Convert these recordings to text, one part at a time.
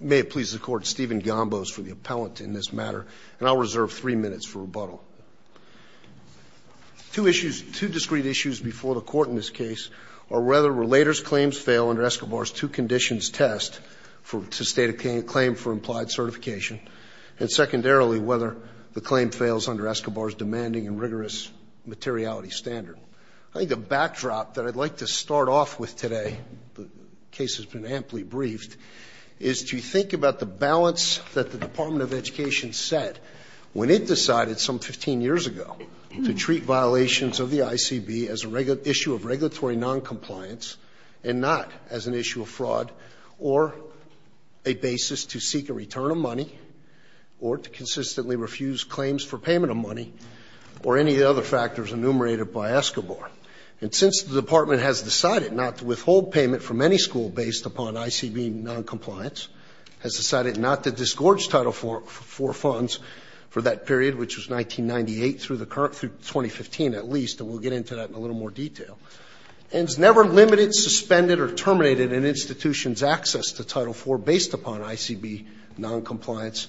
May it please the Court, Stephen Gombos for the appellant in this matter, and I'll reserve three minutes for rebuttal. Two discrete issues before the Court in this case are whether relator's claims fail under Escobar's two conditions test to state a claim for implied certification, and secondarily, whether the claim fails under Escobar's demanding and rigorous materiality standard. I think the backdrop that I'd like to start off with today, the case has been amply briefed, is to think about the balance that the Department of Education set when it decided some 15 years ago to treat violations of the ICB as an issue of regulatory noncompliance and not as an issue of fraud or a basis to seek a return of money or to consistently refuse claims for payment of money or any other factors enumerated by Escobar. And since the Department has decided not to withhold payment from any school based upon ICB noncompliance, has decided not to disgorge Title IV funds for that period, which was 1998 through the current 2015 at least, and we'll get into that in a little more detail, and has never limited, suspended, or terminated an institution's access to Title IV based upon ICB noncompliance,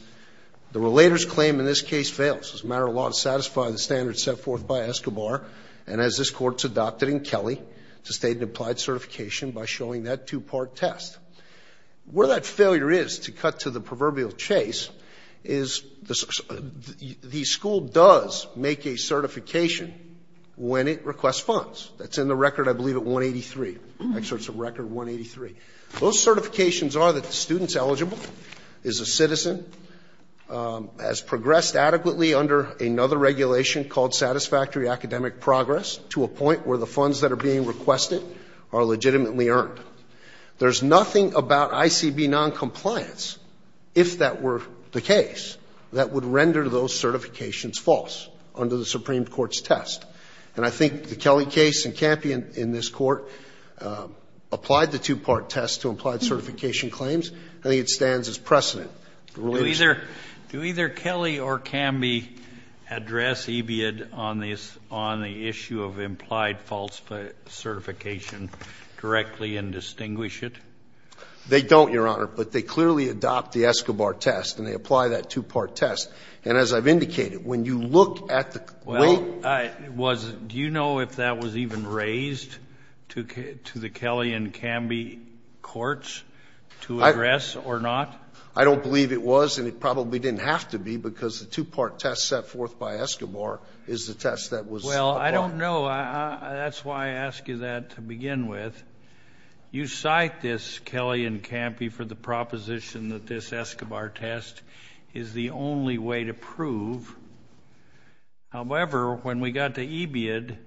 the relator's claim in this case fails. It's a matter of law to satisfy the standard set forth by Escobar, and as this Court's adopted in Kelly, to state an applied certification by showing that two-part test. Where that failure is, to cut to the proverbial chase, is the school does make a certification when it requests funds. That's in the record, I believe, at 183. Actually, it's a record 183. Those certifications are that the student's eligible, is a citizen, has progressed adequately under another regulation called satisfactory academic progress to a point where the funds that are being requested are legitimately earned. There's nothing about ICB noncompliance, if that were the case, that would render those certifications false under the Supreme Court's test. And I think the Kelly case and Campion in this Court applied the two-part test to applied certification claims. I think it stands as precedent. Do either Kelly or Camby address EBID on the issue of implied false certification directly and distinguish it? They don't, Your Honor. But they clearly adopt the Escobar test, and they apply that two-part test. And as I've indicated, when you look at the claim. Well, do you know if that was even raised to the Kelly and Camby courts to address or not? I don't believe it was, and it probably didn't have to be, because the two-part test set forth by Escobar is the test that was applied. Well, I don't know. That's why I ask you that to begin with. You cite this Kelly and Camby for the proposition that this Escobar test is the only way to prove. However, when we got to EBID,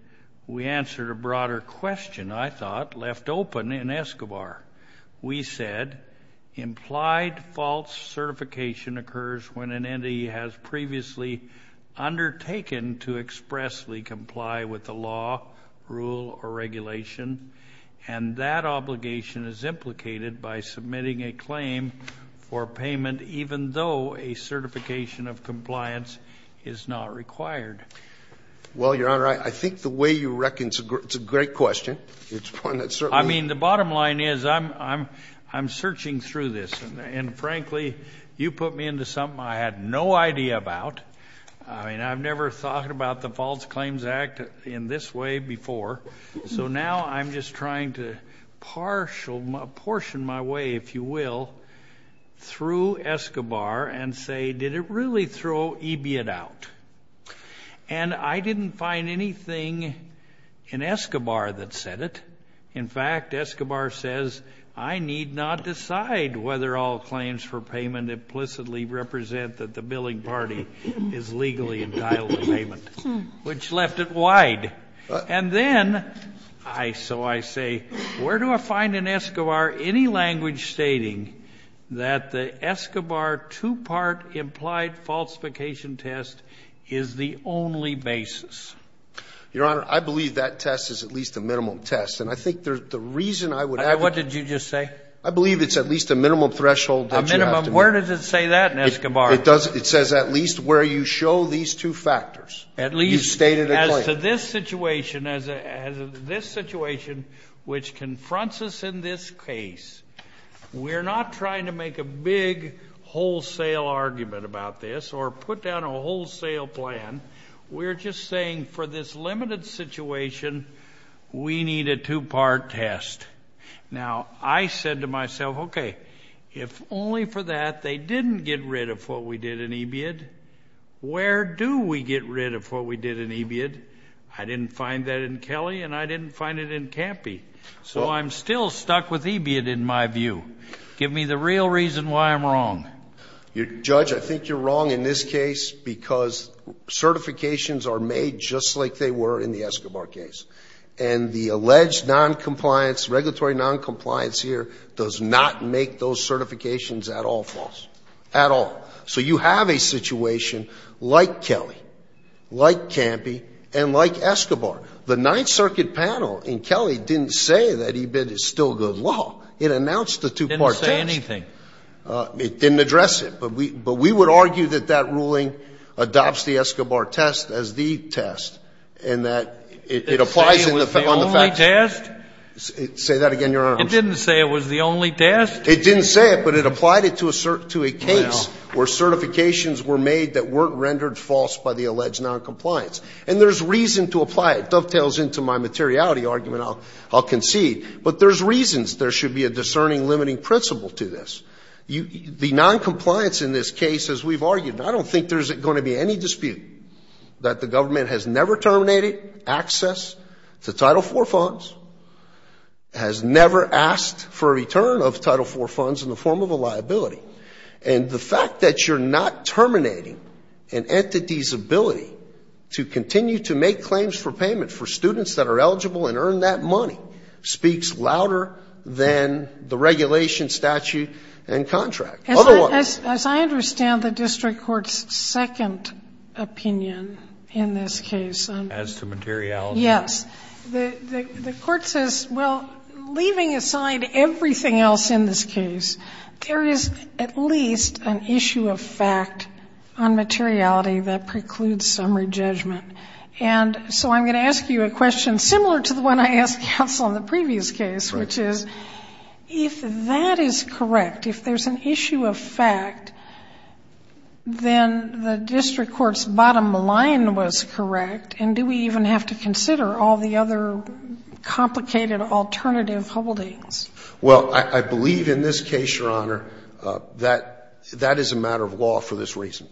we answered a broader question, I thought, left open in Escobar. We said implied false certification occurs when an entity has previously undertaken to expressly comply with the law, rule, or regulation, and that obligation is implicated by submitting a claim for payment even though a certification of compliance is not required. Well, Your Honor, I think the way you reckon, it's a great question. I mean, the bottom line is I'm searching through this, and frankly, you put me into something I had no idea about. I mean, I've never thought about the False Claims Act in this way before. So now I'm just trying to portion my way, if you will, through Escobar and say, did it really throw EBID out? And I didn't find anything in Escobar that said it. In fact, Escobar says, I need not decide whether all claims for payment implicitly represent that the billing party is legally entitled to payment, which left it wide. And then, so I say, where do I find in Escobar any language stating that the Escobar two-part implied falsification test is the only basis? Your Honor, I believe that test is at least a minimum test. And I think the reason I would advocate that. What did you just say? I believe it's at least a minimum threshold that you have to meet. A minimum? Where does it say that in Escobar? It says at least where you show these two factors. At least? You stated a claim. As to this situation, which confronts us in this case, we're not trying to make a big wholesale argument about this or put down a wholesale plan. We're just saying for this limited situation, we need a two-part test. Now, I said to myself, okay, if only for that they didn't get rid of what we did in EBID, where do we get rid of what we did in EBID? I didn't find that in Kelly, and I didn't find it in Campy. So I'm still stuck with EBID in my view. Give me the real reason why I'm wrong. Judge, I think you're wrong in this case because certifications are made just like they were in the Escobar case. And the alleged noncompliance, regulatory noncompliance here, does not make those certifications at all false, at all. So you have a situation like Kelly, like Campy, and like Escobar. The Ninth Circuit panel in Kelly didn't say that EBID is still good law. It announced the two-part test. It didn't address it. But we would argue that that ruling adopts the Escobar test as the test and that it applies on the facts. Say that again, Your Honor. It didn't say it was the only test. It didn't say it, but it applied it to a case where certifications were made that weren't rendered false by the alleged noncompliance. And there's reason to apply it. It dovetails into my materiality argument. I'll concede. But there's reasons there should be a discerning limiting principle to this. The noncompliance in this case, as we've argued, and I don't think there's going to be any dispute that the government has never terminated access to Title IV funds, has never asked for a return of Title IV funds in the form of a liability. And the fact that you're not terminating an entity's ability to continue to make claims for payment for students that are eligible and earn that money, speaks louder than the regulation statute and contract. Otherwise. As I understand the district court's second opinion in this case. As to materiality. Yes. The court says, well, leaving aside everything else in this case, there is at least an issue of fact on materiality that precludes summary judgment. And so I'm going to ask you a question similar to the one I asked counsel in the previous case, which is, if that is correct, if there's an issue of fact, then the district court's bottom line was correct, and do we even have to consider all the other complicated alternative holdings? Well, I believe in this case, Your Honor, that that is a matter of law for this reason.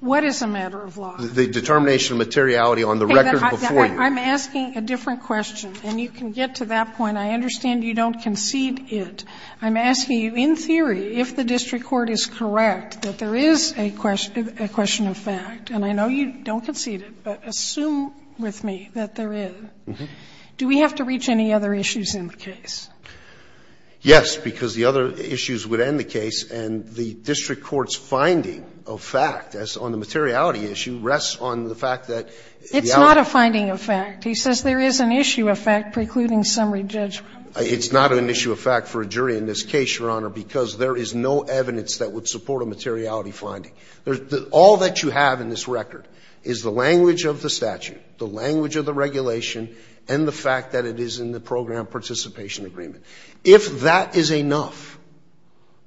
What is a matter of law? The determination of materiality on the record before you. I'm asking a different question, and you can get to that point. I understand you don't concede it. I'm asking you, in theory, if the district court is correct that there is a question of fact, and I know you don't concede it, but assume with me that there is. Do we have to reach any other issues in the case? Yes, because the other issues would end the case, and the district court's finding of fact, as on the materiality issue, rests on the fact that the alibi. It's not a finding of fact. He says there is an issue of fact precluding summary judgment. It's not an issue of fact for a jury in this case, Your Honor, because there is no evidence that would support a materiality finding. All that you have in this record is the language of the statute, the language of the regulation, and the fact that it is in the program participation agreement. If that is enough,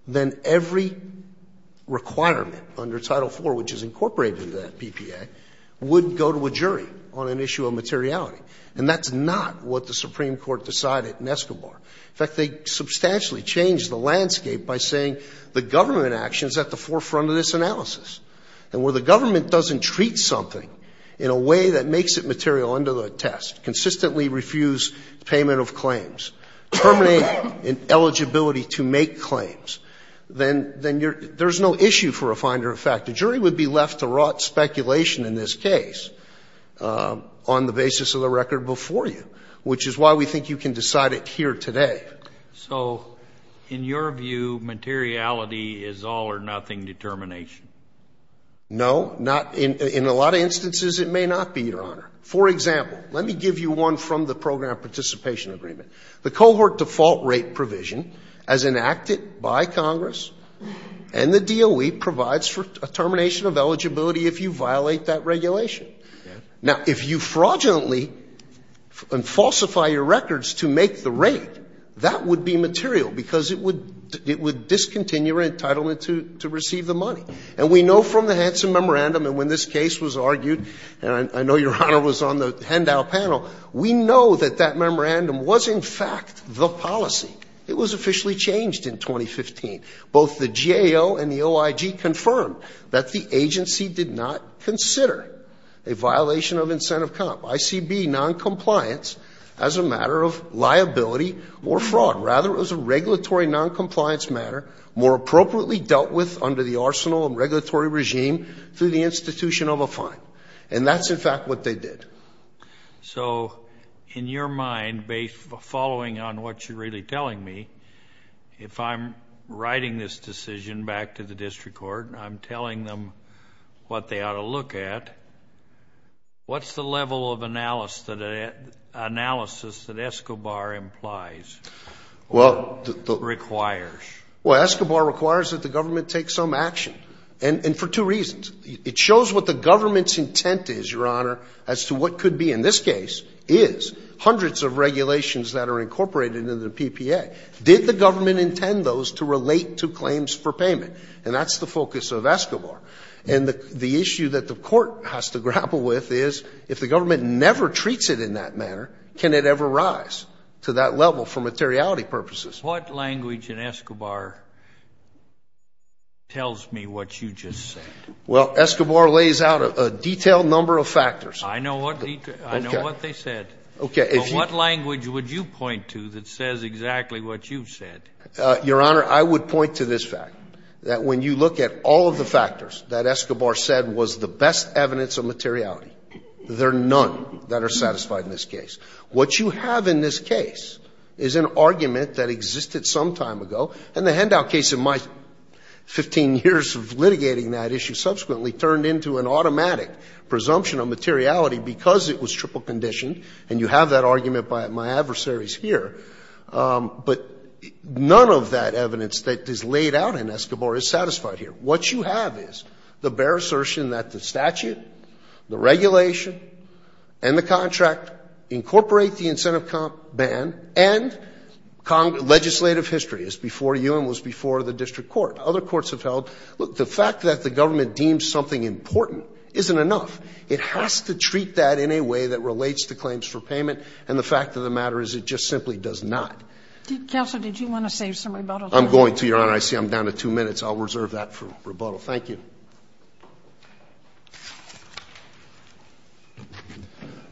then every requirement under Title IV, which is incorporated in that PPA, would go to a jury on an issue of materiality. And that's not what the Supreme Court decided in Escobar. In fact, they substantially changed the landscape by saying the government action is at the forefront of this analysis. And where the government doesn't treat something in a way that makes it material under the test, consistently refuse payment of claims, terminate an eligibility to make claims, then you're – there's no issue for a finder of fact. A jury would be left to rot speculation in this case on the basis of the record before you, which is why we think you can decide it here today. So in your view, materiality is all or nothing determination? No. Not – in a lot of instances it may not be, Your Honor. For example, let me give you one from the program participation agreement. The cohort default rate provision, as enacted by Congress and the DOE, provides a termination of eligibility if you violate that regulation. Now, if you fraudulently falsify your records to make the rate, that would be material because it would discontinue your entitlement to receive the money. And we know from the Hansen memorandum, and when this case was argued, and I know Your Honor was on the handout panel, we know that that memorandum was in fact the policy. It was officially changed in 2015. Both the GAO and the OIG confirmed that the agency did not consider a violation of incentive comp, ICB noncompliance, as a matter of liability or fraud. Rather, it was a regulatory noncompliance matter more appropriately dealt with under the arsenal and regulatory regime through the institution of a fine. And that's in fact what they did. So, in your mind, following on what you're really telling me, if I'm writing this decision back to the district court, I'm telling them what they ought to look at, what's the level of analysis that Escobar implies or requires? Well, Escobar requires that the government take some action, and for two reasons. It shows what the government's intent is, Your Honor, as to what could be in this case is hundreds of regulations that are incorporated into the PPA. Did the government intend those to relate to claims for payment? And that's the focus of Escobar. And the issue that the Court has to grapple with is if the government never treats it in that manner, can it ever rise to that level for materiality purposes? What language in Escobar tells me what you just said? Well, Escobar lays out a detailed number of factors. I know what they said. Okay. But what language would you point to that says exactly what you've said? Your Honor, I would point to this fact, that when you look at all of the factors that Escobar said was the best evidence of materiality, there are none that are satisfied in this case. What you have in this case is an argument that existed some time ago. And the Hendow case in my 15 years of litigating that issue subsequently turned into an automatic presumption of materiality because it was triple conditioned, and you have that argument by my adversaries here. But none of that evidence that is laid out in Escobar is satisfied here. What you have is the bare assertion that the statute, the regulation, and the contract incorporate the incentive comp ban, and legislative history is before you and was before the district court. Other courts have held, look, the fact that the government deems something important isn't enough. It has to treat that in a way that relates to claims for payment, and the fact of the matter is it just simply does not. Counsel, did you want to save some rebuttal time? I'm going to, Your Honor. I see I'm down to two minutes. I'll reserve that for rebuttal. Thank you.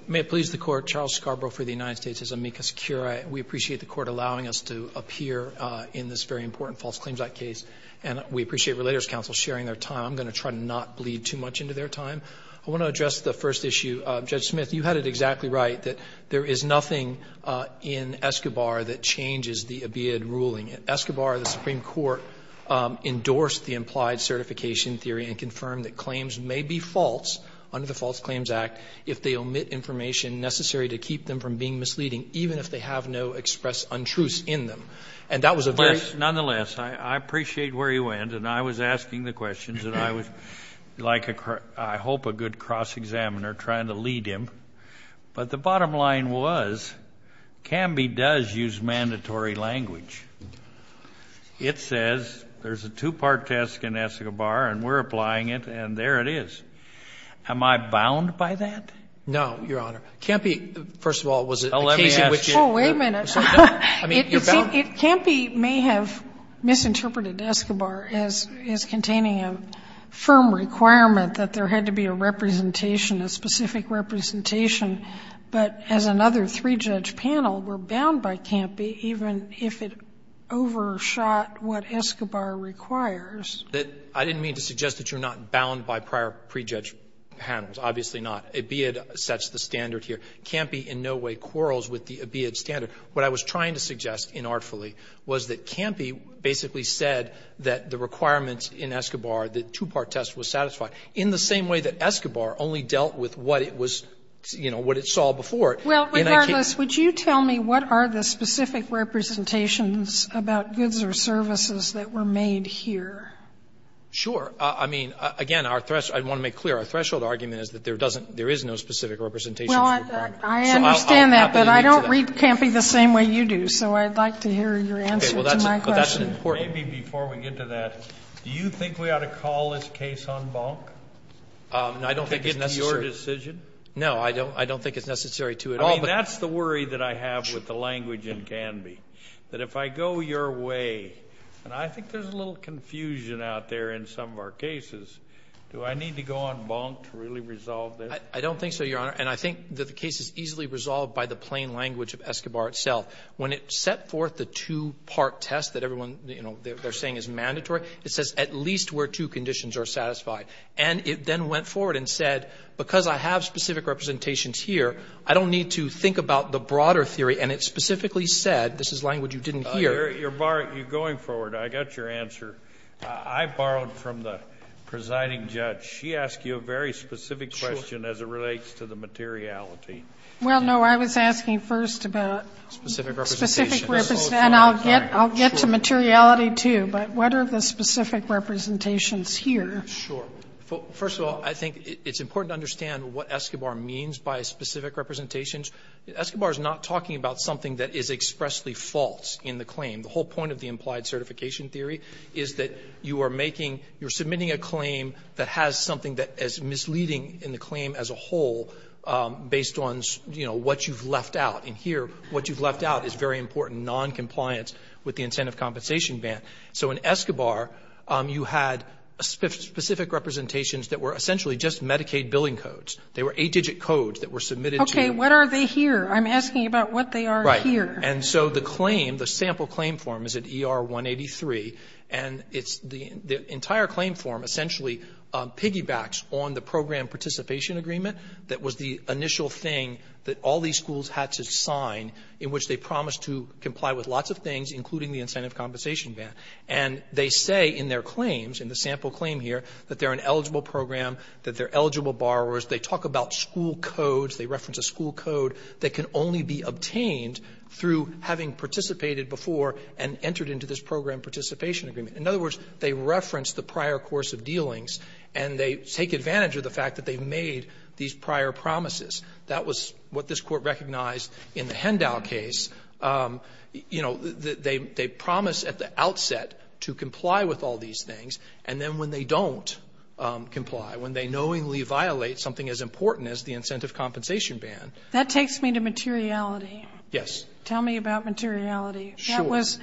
May it please the Court, Charles Scarborough for the United States. This is amicus curiae. We appreciate the Court allowing us to appear in this very important false claims act case, and we appreciate Relators Council sharing their time. I'm going to try to not bleed too much into their time. I want to address the first issue. Judge Smith, you had it exactly right that there is nothing in Escobar that changes the ABIAD ruling. Escobar, the Supreme Court, endorsed the implied certification theory and confirmed that claims may be false under the False Claims Act if they omit information necessary to keep them from being misleading, even if they have no expressed untruths in them. And that was a very ---- Nonetheless, I appreciate where you went. And I was asking the questions, and I was like, I hope, a good cross-examiner trying to lead him. But the bottom line was, CAMBI does use mandatory language. It says there's a two-part test in Escobar, and we're applying it, and there it is. Am I bound by that? No, Your Honor. CAMBI, first of all, was it the case in which it ---- Well, let me ask you ---- Oh, wait a minute. It seems CAMBI may have misinterpreted Escobar as containing a firm requirement that there had to be a representation, a specific representation, but as another three-judge panel, we're bound by CAMBI even if it overshot what Escobar requires. I didn't mean to suggest that you're not bound by prior pre-judge panels. Obviously not. IBIAD sets the standard here. CAMBI in no way quarrels with the IBIAD standard. What I was trying to suggest inartfully was that CAMBI basically said that the requirements in Escobar, the two-part test was satisfied, in the same way that Escobar only dealt with what it was, you know, what it saw before. And I can't ---- Well, regardless, would you tell me what are the specific representations about goods or services that were made here? Sure. I mean, again, our threshold ---- I want to make clear our threshold argument is that there doesn't ---- there is no specific representation for CAMBI. Well, I understand that, but I don't read CAMBI the same way you do, so I'd like to hear your answer to my question. That's important. Maybe before we get to that, do you think we ought to call this case on bunk? I don't think it's necessary. To take it to your decision? No, I don't think it's necessary to at all. I mean, that's the worry that I have with the language in CAMBI, that if I go your way, and I think there's a little confusion out there in some of our cases, do I need to go on bunk to really resolve this? I don't think so, Your Honor. And I think that the case is easily resolved by the plain language of Escobar itself. When it set forth the two-part test that everyone, you know, they're saying is mandatory, it says at least where two conditions are satisfied. And it then went forward and said, because I have specific representations here, I don't need to think about the broader theory, and it specifically said ---- this is language you didn't hear. You're going forward. I got your answer. I borrowed from the presiding judge. She asked you a very specific question as it relates to the materiality. Well, no. I was asking first about specific representation. And I'll get to materiality, too, but what are the specific representations here? Sure. First of all, I think it's important to understand what Escobar means by specific representations. Escobar is not talking about something that is expressly false in the claim. The whole point of the implied certification theory is that you are making, you're submitting a claim that has something that is misleading in the claim as a whole based on, you know, what you've left out. And here, what you've left out is very important, noncompliance with the incentive compensation ban. So in Escobar, you had specific representations that were essentially just Medicaid billing codes. They were eight-digit codes that were submitted to you. Okay. What are they here? I'm asking about what they are here. Right. And so the claim, the sample claim form is at ER 183, and it's the entire claim form essentially piggybacks on the program participation agreement that was the initial thing that all these schools had to sign, in which they promised to comply with lots of things, including the incentive compensation ban. And they say in their claims, in the sample claim here, that they are an eligible program, that they are eligible borrowers. They talk about school codes. They reference a school code that can only be obtained through having participated before and entered into this program participation agreement. In other words, they reference the prior course of dealings, and they take advantage of the fact that they've made these prior promises. That was what this Court recognized in the Hendow case. You know, they promise at the outset to comply with all these things, and then when they don't comply, when they knowingly violate something as important as the incentive compensation ban. That takes me to materiality. Yes. Tell me about materiality. Sure. That was,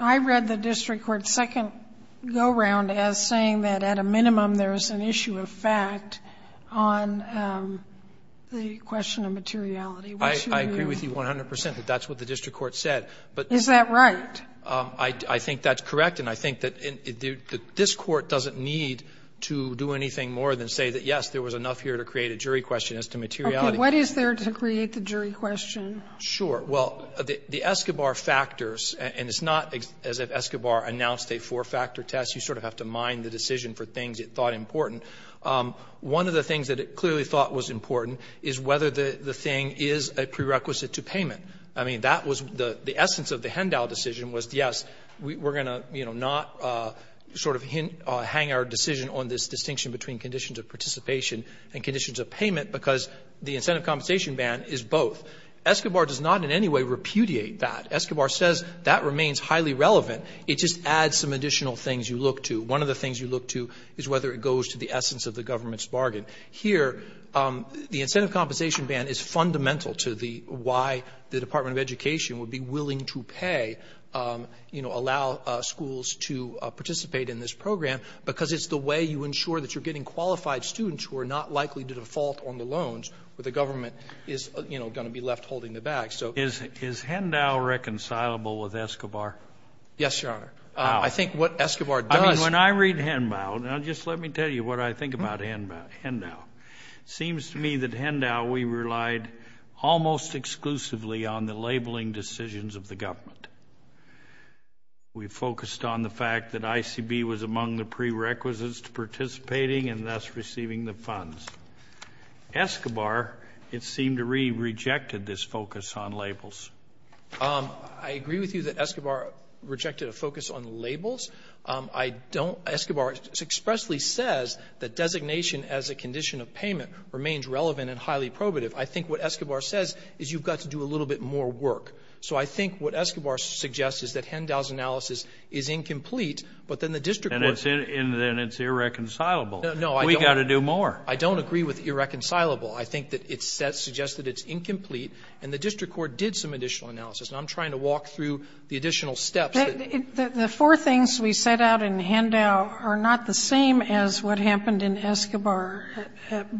I read the district court's second go-round as saying that at a minimum there is an issue of fact on the question of materiality. I agree with you 100 percent that that's what the district court said. Is that right? I think that's correct, and I think that this Court doesn't need to do anything more than say that, yes, there was enough here to create a jury question as to materiality. Okay. What is there to create the jury question? Sure. Well, the Escobar factors, and it's not as if Escobar announced a four-factor decision for things it thought important. One of the things that it clearly thought was important is whether the thing is a prerequisite to payment. I mean, that was the essence of the Hendow decision was, yes, we're going to, you know, not sort of hang our decision on this distinction between conditions of participation and conditions of payment, because the incentive compensation ban is both. Escobar does not in any way repudiate that. Escobar says that remains highly relevant. It just adds some additional things you look to. One of the things you look to is whether it goes to the essence of the government's bargain. Here, the incentive compensation ban is fundamental to the why the Department of Education would be willing to pay, you know, allow schools to participate in this program, because it's the way you ensure that you're getting qualified students who are not likely to default on the loans where the government is, you know, going to be left holding the bag. Is Hendow reconcilable with Escobar? Yes, Your Honor. How? I think what Escobar does. I mean, when I read Hendow, now just let me tell you what I think about Hendow. It seems to me that Hendow, we relied almost exclusively on the labeling decisions of the government. We focused on the fact that ICB was among the prerequisites to participating and thus receiving the funds. Escobar, it seemed to me, rejected this focus on labels. I agree with you that Escobar rejected a focus on labels. I don't — Escobar expressly says that designation as a condition of payment remains relevant and highly probative. I think what Escobar says is you've got to do a little bit more work. So I think what Escobar suggests is that Hendow's analysis is incomplete, but then the district court — And then it's irreconcilable. No, I don't — We've got to do more. I don't agree with irreconcilable. I think that it suggests that it's incomplete. And the district court did some additional analysis. And I'm trying to walk through the additional steps. The four things we set out in Hendow are not the same as what happened in Escobar,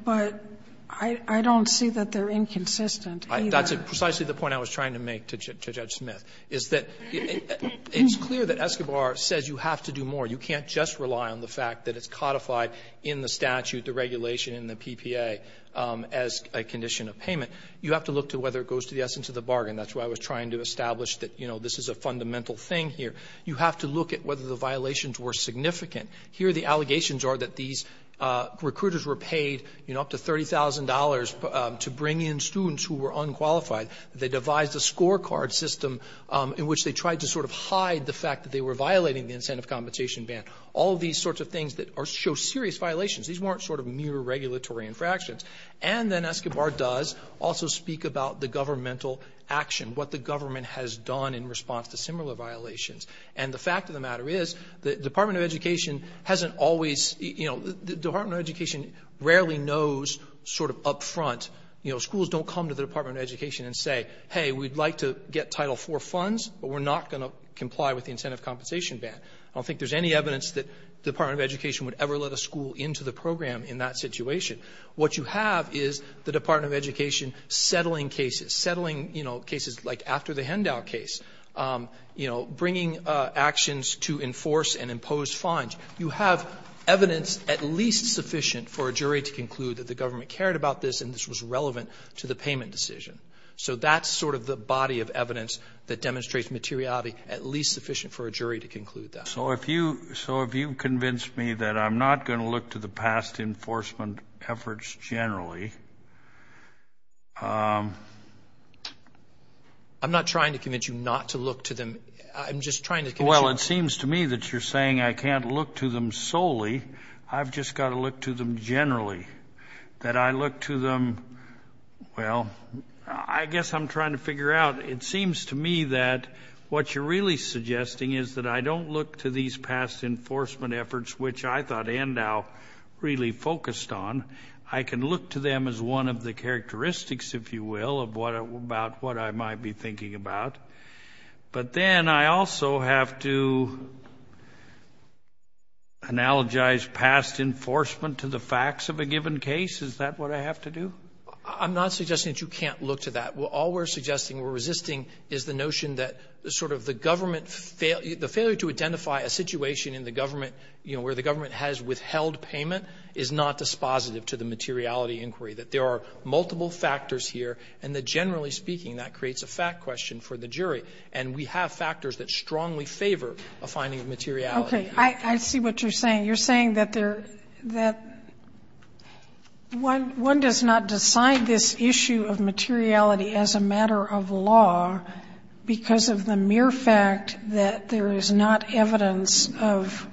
but I don't see that they're inconsistent either. That's precisely the point I was trying to make to Judge Smith, is that it's clear that Escobar says you have to do more. You can't just rely on the fact that it's codified in the statute, the regulation, and the PPA as a condition of payment. You have to look to whether it goes to the essence of the bargain. That's what I was trying to establish, that, you know, this is a fundamental thing here. You have to look at whether the violations were significant. Here the allegations are that these recruiters were paid, you know, up to $30,000 to bring in students who were unqualified. They devised a scorecard system in which they tried to sort of hide the fact that they were violating the incentive compensation ban. All these sorts of things that show serious violations, these weren't sort of mere regulatory infractions. And then Escobar does also speak about the governmental action, what the government has done in response to similar violations. And the fact of the matter is the Department of Education hasn't always, you know, the Department of Education rarely knows sort of up front, you know, schools don't come to the Department of Education and say, hey, we'd like to get Title IV funds, but we're not going to comply with the incentive compensation ban. I don't think there's any evidence that the Department of Education would ever let a school into the program in that situation. What you have is the Department of Education settling cases, settling, you know, cases like after the Hendow case, you know, bringing actions to enforce and impose fines. You have evidence at least sufficient for a jury to conclude that the government cared about this and this was relevant to the payment decision. So that's sort of the body of evidence that demonstrates materiality at least sufficient for a jury to conclude that. So if you convince me that I'm not going to look to the past enforcement efforts generally. I'm not trying to convince you not to look to them. I'm just trying to convince you. Well, it seems to me that you're saying I can't look to them solely. I've just got to look to them generally. That I look to them, well, I guess I'm trying to figure out. It seems to me that what you're really suggesting is that I don't look to these past enforcement efforts, which I thought Hendow really focused on. I can look to them as one of the characteristics, if you will, about what I might be thinking about. But then I also have to analogize past enforcement to the facts of a given case. Is that what I have to do? I'm not suggesting that you can't look to that. All we're suggesting, we're resisting, is the notion that sort of the government failure to identify a situation in the government, you know, where the government has withheld payment is not dispositive to the materiality inquiry. That there are multiple factors here, and that generally speaking that creates a fact question for the jury. And we have factors that strongly favor a finding of materiality. I see what you're saying. You're saying that one does not decide this issue of materiality as a matter of law because of the mere fact that there is not evidence of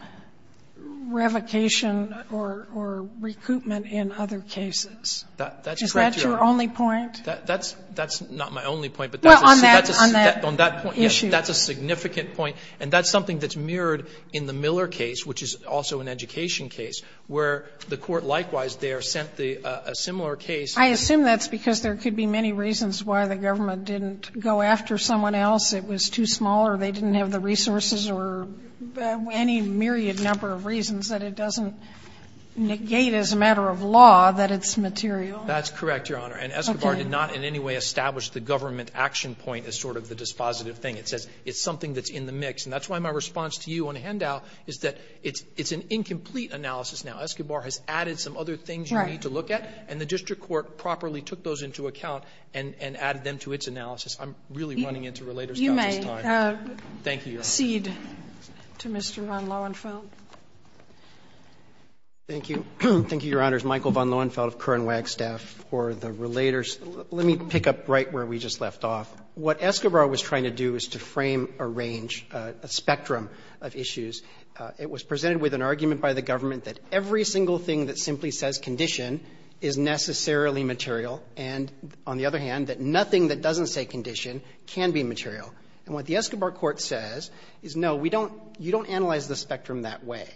revocation or recoupment in other cases. That's correct, Your Honor. Is that your only point? That's not my only point. Well, on that issue. That's a significant point. And that's something that's mirrored in the Miller case, which is also an education case, where the Court likewise there sent a similar case. I assume that's because there could be many reasons why the government didn't go after someone else. It was too small or they didn't have the resources or any myriad number of reasons that it doesn't negate as a matter of law that it's material. That's correct, Your Honor. And Escobar did not in any way establish the government action point as sort of the dispositive thing. It says it's something that's in the mix. And that's why my response to you on the handout is that it's an incomplete analysis now. Escobar has added some other things you need to look at. And the district court properly took those into account and added them to its analysis. I'm really running into Relator's couch this time. You may proceed to Mr. von Lohenfeld. Thank you. Thank you, Your Honors. Michael von Lohenfeld of Kern Wagstaff for the Relators. Let me pick up right where we just left off. What Escobar was trying to do is to frame a range, a spectrum of issues. It was presented with an argument by the government that every single thing that simply says condition is necessarily material and, on the other hand, that nothing that doesn't say condition can be material. And what the Escobar court says is, no, we don't – you don't analyze the spectrum that way.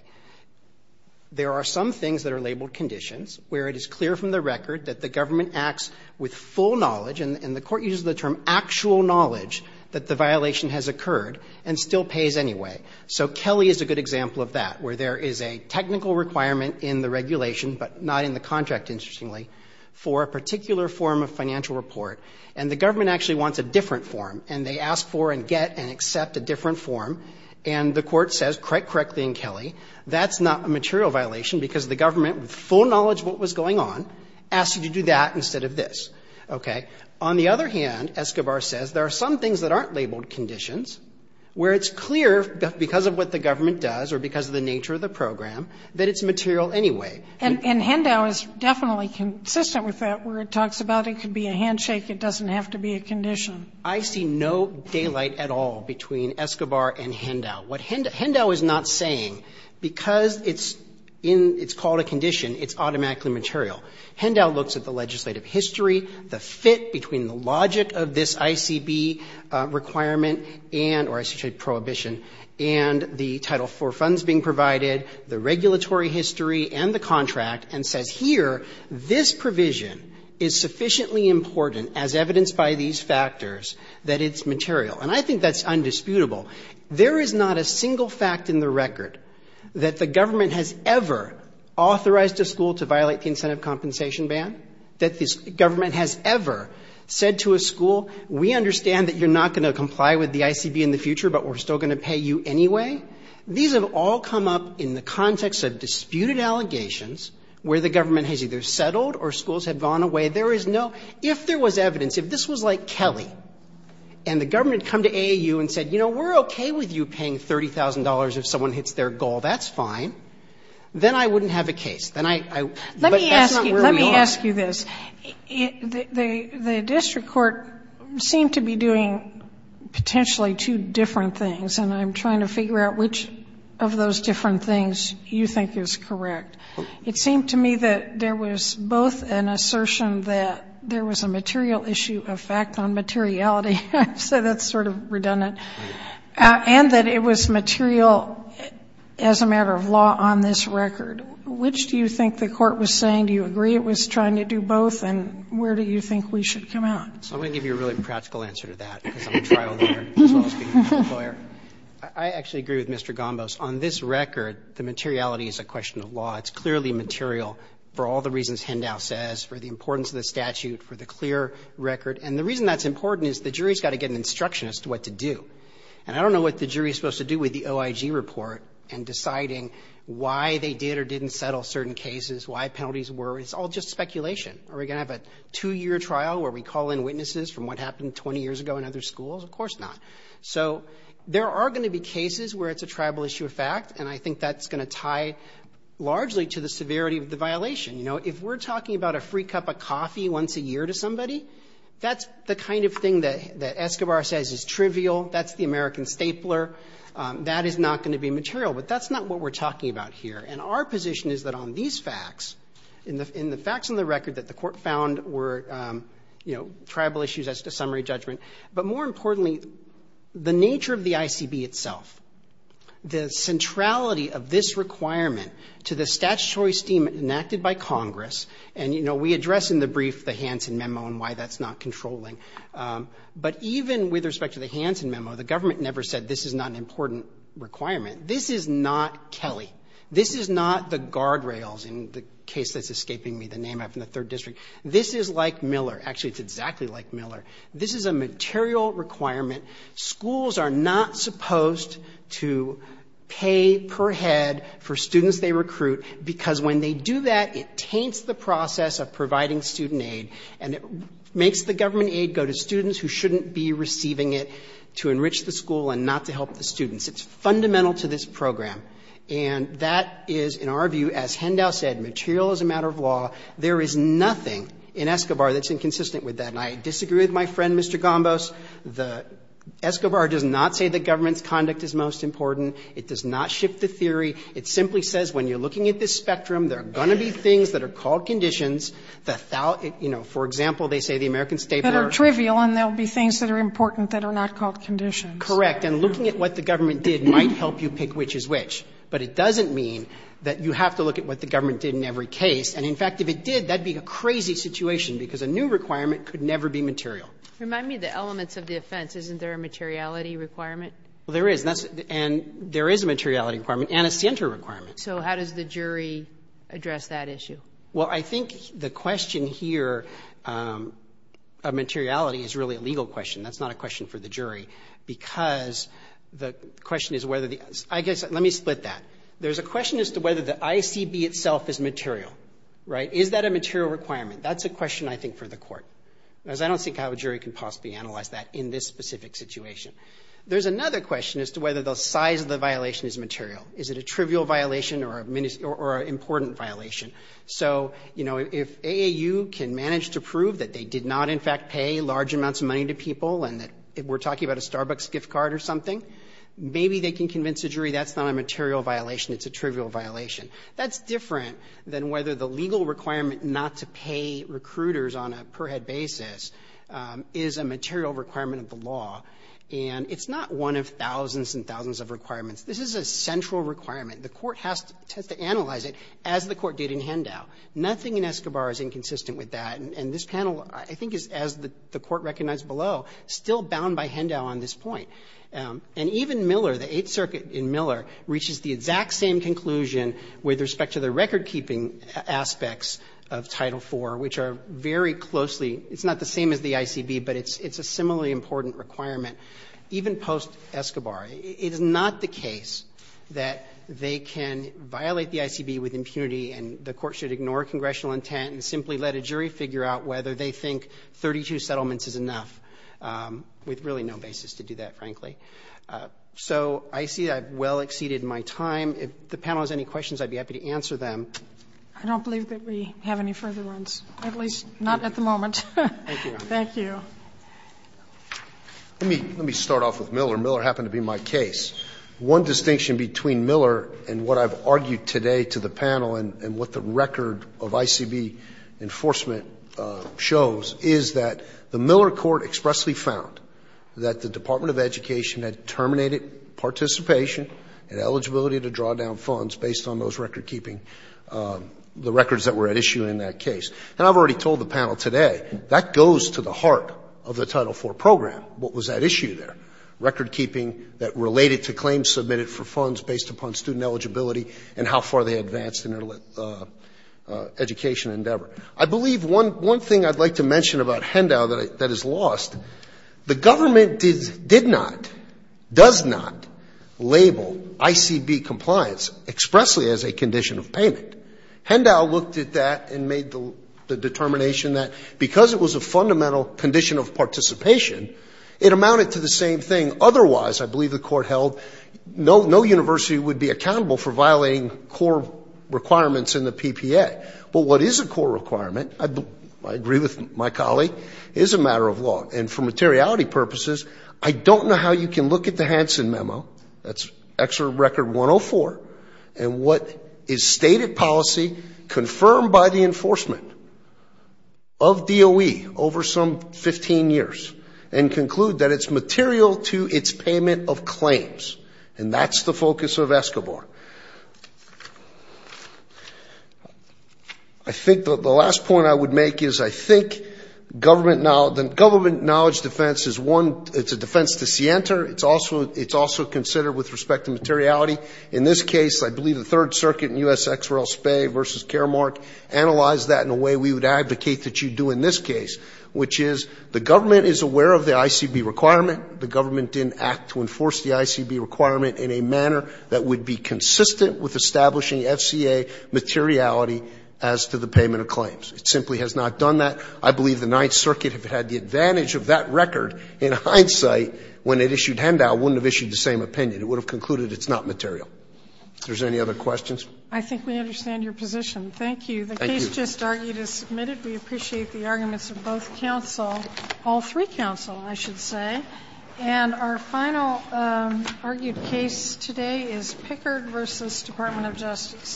There are some things that are labeled conditions where it is clear from the record that the government acts with full knowledge, and the court uses the term actual knowledge, that the violation has occurred and still pays anyway. So Kelly is a good example of that, where there is a technical requirement in the regulation, but not in the contract, interestingly, for a particular form of financial report. And the government actually wants a different form, and they ask for and get and accept a different form. And the court says, quite correctly in Kelly, that's not a material violation because the government, with full knowledge of what was going on, asked you to do that instead of this. Okay? On the other hand, Escobar says there are some things that aren't labeled conditions where it's clear because of what the government does or because of the nature of the program that it's material anyway. And Hendo is definitely consistent with that, where it talks about it could be a handshake. It doesn't have to be a condition. I see no daylight at all between Escobar and Hendo. What Hendo is not saying, because it's in, it's called a condition, it's automatically material. Hendo looks at the legislative history, the fit between the logic of this ICB requirement and, or I should say prohibition, and the Title IV funds being provided, the regulatory history and the contract, and says, here, this provision is sufficiently important as evidenced by these factors that it's material. And I think that's undisputable. There is not a single fact in the record that the government has ever authorized a school to violate the incentive compensation ban, that the government has ever said to a school, we understand that you're not going to comply with the ICB in the future, but we're still going to pay you anyway. These have all come up in the context of disputed allegations where the government has either settled or schools have gone away. There is no, if there was evidence, if this was like Kelly and the government had come to AAU and said, you know, we're okay with you paying $30,000 if someone hits their goal, that's fine, then I wouldn't have a case. Then I, I, but that's not where we are. Let me ask you this. The, the district court seemed to be doing potentially two different things, and I'm trying to figure out which of those different things you think is correct. It seemed to me that there was both an assertion that there was a material issue of fact on materiality, so that's sort of redundant, and that it was material as a matter of law on this record. Which do you think the court was saying? Do you agree it was trying to do both, and where do you think we should come out? So I'm going to give you a really practical answer to that, because I'm a trial lawyer as well as being a court lawyer. I, I actually agree with Mr. Gombos. On this record, the materiality is a question of law. It's clearly material for all the reasons Hendow says, for the importance of the statute, for the clear record, and the reason that's important is the jury's got to get an instruction as to what to do. And I don't know what the jury's supposed to do with the OIG report in deciding why they did or didn't settle certain cases, why penalties were. It's all just speculation. Are we going to have a two-year trial where we call in witnesses from what happened 20 years ago in other schools? Of course not. So there are going to be cases where it's a tribal issue of fact, and I think that's going to tie largely to the severity of the violation. You know, if we're talking about a free cup of coffee once a year to somebody, that's the kind of thing that Escobar says is trivial. That's the American stapler. That is not going to be material. But that's not what we're talking about here. And our position is that on these facts, in the facts on the record that the Court found were, you know, tribal issues as to summary judgment, but more importantly, the nature of the ICB itself, the centrality of this requirement to the statutory esteem enacted by Congress, and, you know, we address in the brief the Hansen Memo and why that's not controlling, but even with respect to the Hansen Memo, the government never said this is not an important requirement. This is not Kelly. This is not the guardrails in the case that's escaping me, the name I have in the Third District. This is like Miller. Actually, it's exactly like Miller. This is a material requirement. Schools are not supposed to pay per head for students they recruit because when they do that, it taints the process of providing student aid, and it makes the government aid go to students who shouldn't be receiving it to enrich the school and not to help the students. It's fundamental to this program. And that is, in our view, as Hendau said, material is a matter of law. There is nothing in Escobar that's inconsistent with that. And I disagree with my friend, Mr. Gombos. The Escobar does not say that government's conduct is most important. It does not shift the theory. It simply says when you're looking at this spectrum, there are going to be things that are called conditions that, you know, for example, they say the American State Board are. Sotomayor, and there will be things that are important that are not called conditions. Correct. And looking at what the government did might help you pick which is which. But it doesn't mean that you have to look at what the government did in every case. And, in fact, if it did, that would be a crazy situation because a new requirement could never be material. Remind me of the elements of the offense. Isn't there a materiality requirement? Well, there is, and there is a materiality requirement. And a center requirement. So how does the jury address that issue? Well, I think the question here of materiality is really a legal question. That's not a question for the jury because the question is whether the, I guess, let me split that. There's a question as to whether the ICB itself is material, right? Is that a material requirement? That's a question, I think, for the court because I don't think I have a jury can possibly analyze that in this specific situation. There's another question as to whether the size of the violation is material. Is it a trivial violation or an important violation? So, you know, if AAU can manage to prove that they did not, in fact, pay large amounts of money to people and that we're talking about a Starbucks gift card or something, maybe they can convince the jury that's not a material violation, it's a trivial violation. That's different than whether the legal requirement not to pay recruiters on a per-head basis is a material requirement of the law. And it's not one of thousands and thousands of requirements. This is a central requirement. The court has to analyze it, as the court did in Hendau. Nothing in Escobar is inconsistent with that. And this panel, I think, is, as the Court recognized below, still bound by Hendau on this point. And even Miller, the Eighth Circuit in Miller, reaches the exact same conclusion with respect to the recordkeeping aspects of Title IV, which are very closely – it's not the same as the ICB, but it's a similarly important requirement even post-Escobar. It is not the case that they can violate the ICB with impunity and the court should ignore congressional intent and simply let a jury figure out whether they think 32 settlements is enough, with really no basis to do that, frankly. So I see I've well exceeded my time. If the panel has any questions, I'd be happy to answer them. Sotomayor, I don't believe that we have any further ones, at least not at the moment. Roberts, thank you. Let me start off with Miller. Miller happened to be my case. One distinction between Miller and what I've argued today to the panel and what the record of ICB enforcement shows is that the Miller court expressly found that the Department of Education had terminated participation and eligibility to draw down funds based on those recordkeeping – the records that were at issue in that case. And I've already told the panel today, that goes to the heart of the Title IV program. What was at issue there? Recordkeeping that related to claims submitted for funds based upon student eligibility and how far they advanced in their education endeavor. I believe one thing I'd like to mention about Hendow that is lost, the government did not, does not label ICB compliance expressly as a condition of payment. Hendow looked at that and made the determination that because it was a fundamental condition of participation, it amounted to the same thing. Otherwise, I believe the court held, no university would be accountable for violating core requirements in the PPA. But what is a core requirement, I agree with my colleague, is a matter of law. And for materiality purposes, I don't know how you can look at the Hansen memo, that's Excerpt Record 104, and what is stated policy confirmed by the enforcement of DOE over some 15 years and conclude that it's material to its payment of claims. And that's the focus of ESCOBAR. I think the last point I would make is I think government knowledge, the government knowledge defense is one, it's a defense to SIENTA, it's also, it's also considered with respect to materiality. In this case, I believe the Third Circuit in U.S.X.R.L. versus Caremark analyzed that in a way we would advocate that you do in this case, which is the government is aware of the ICB requirement, the government didn't act to enforce the ICB requirement in a manner that would be consistent with establishing FCA materiality as to the payment of claims. It simply has not done that. I believe the Ninth Circuit, if it had the advantage of that record, in hindsight, when it issued handout, wouldn't have issued the same opinion. It would have concluded it's not material. If there's any other questions? I think we understand your position. Thank you. Thank you. The case just argued is submitted. We appreciate the arguments of both counsel, all three counsel, I should say. And our final argued case today is Pickard versus Department of Justice.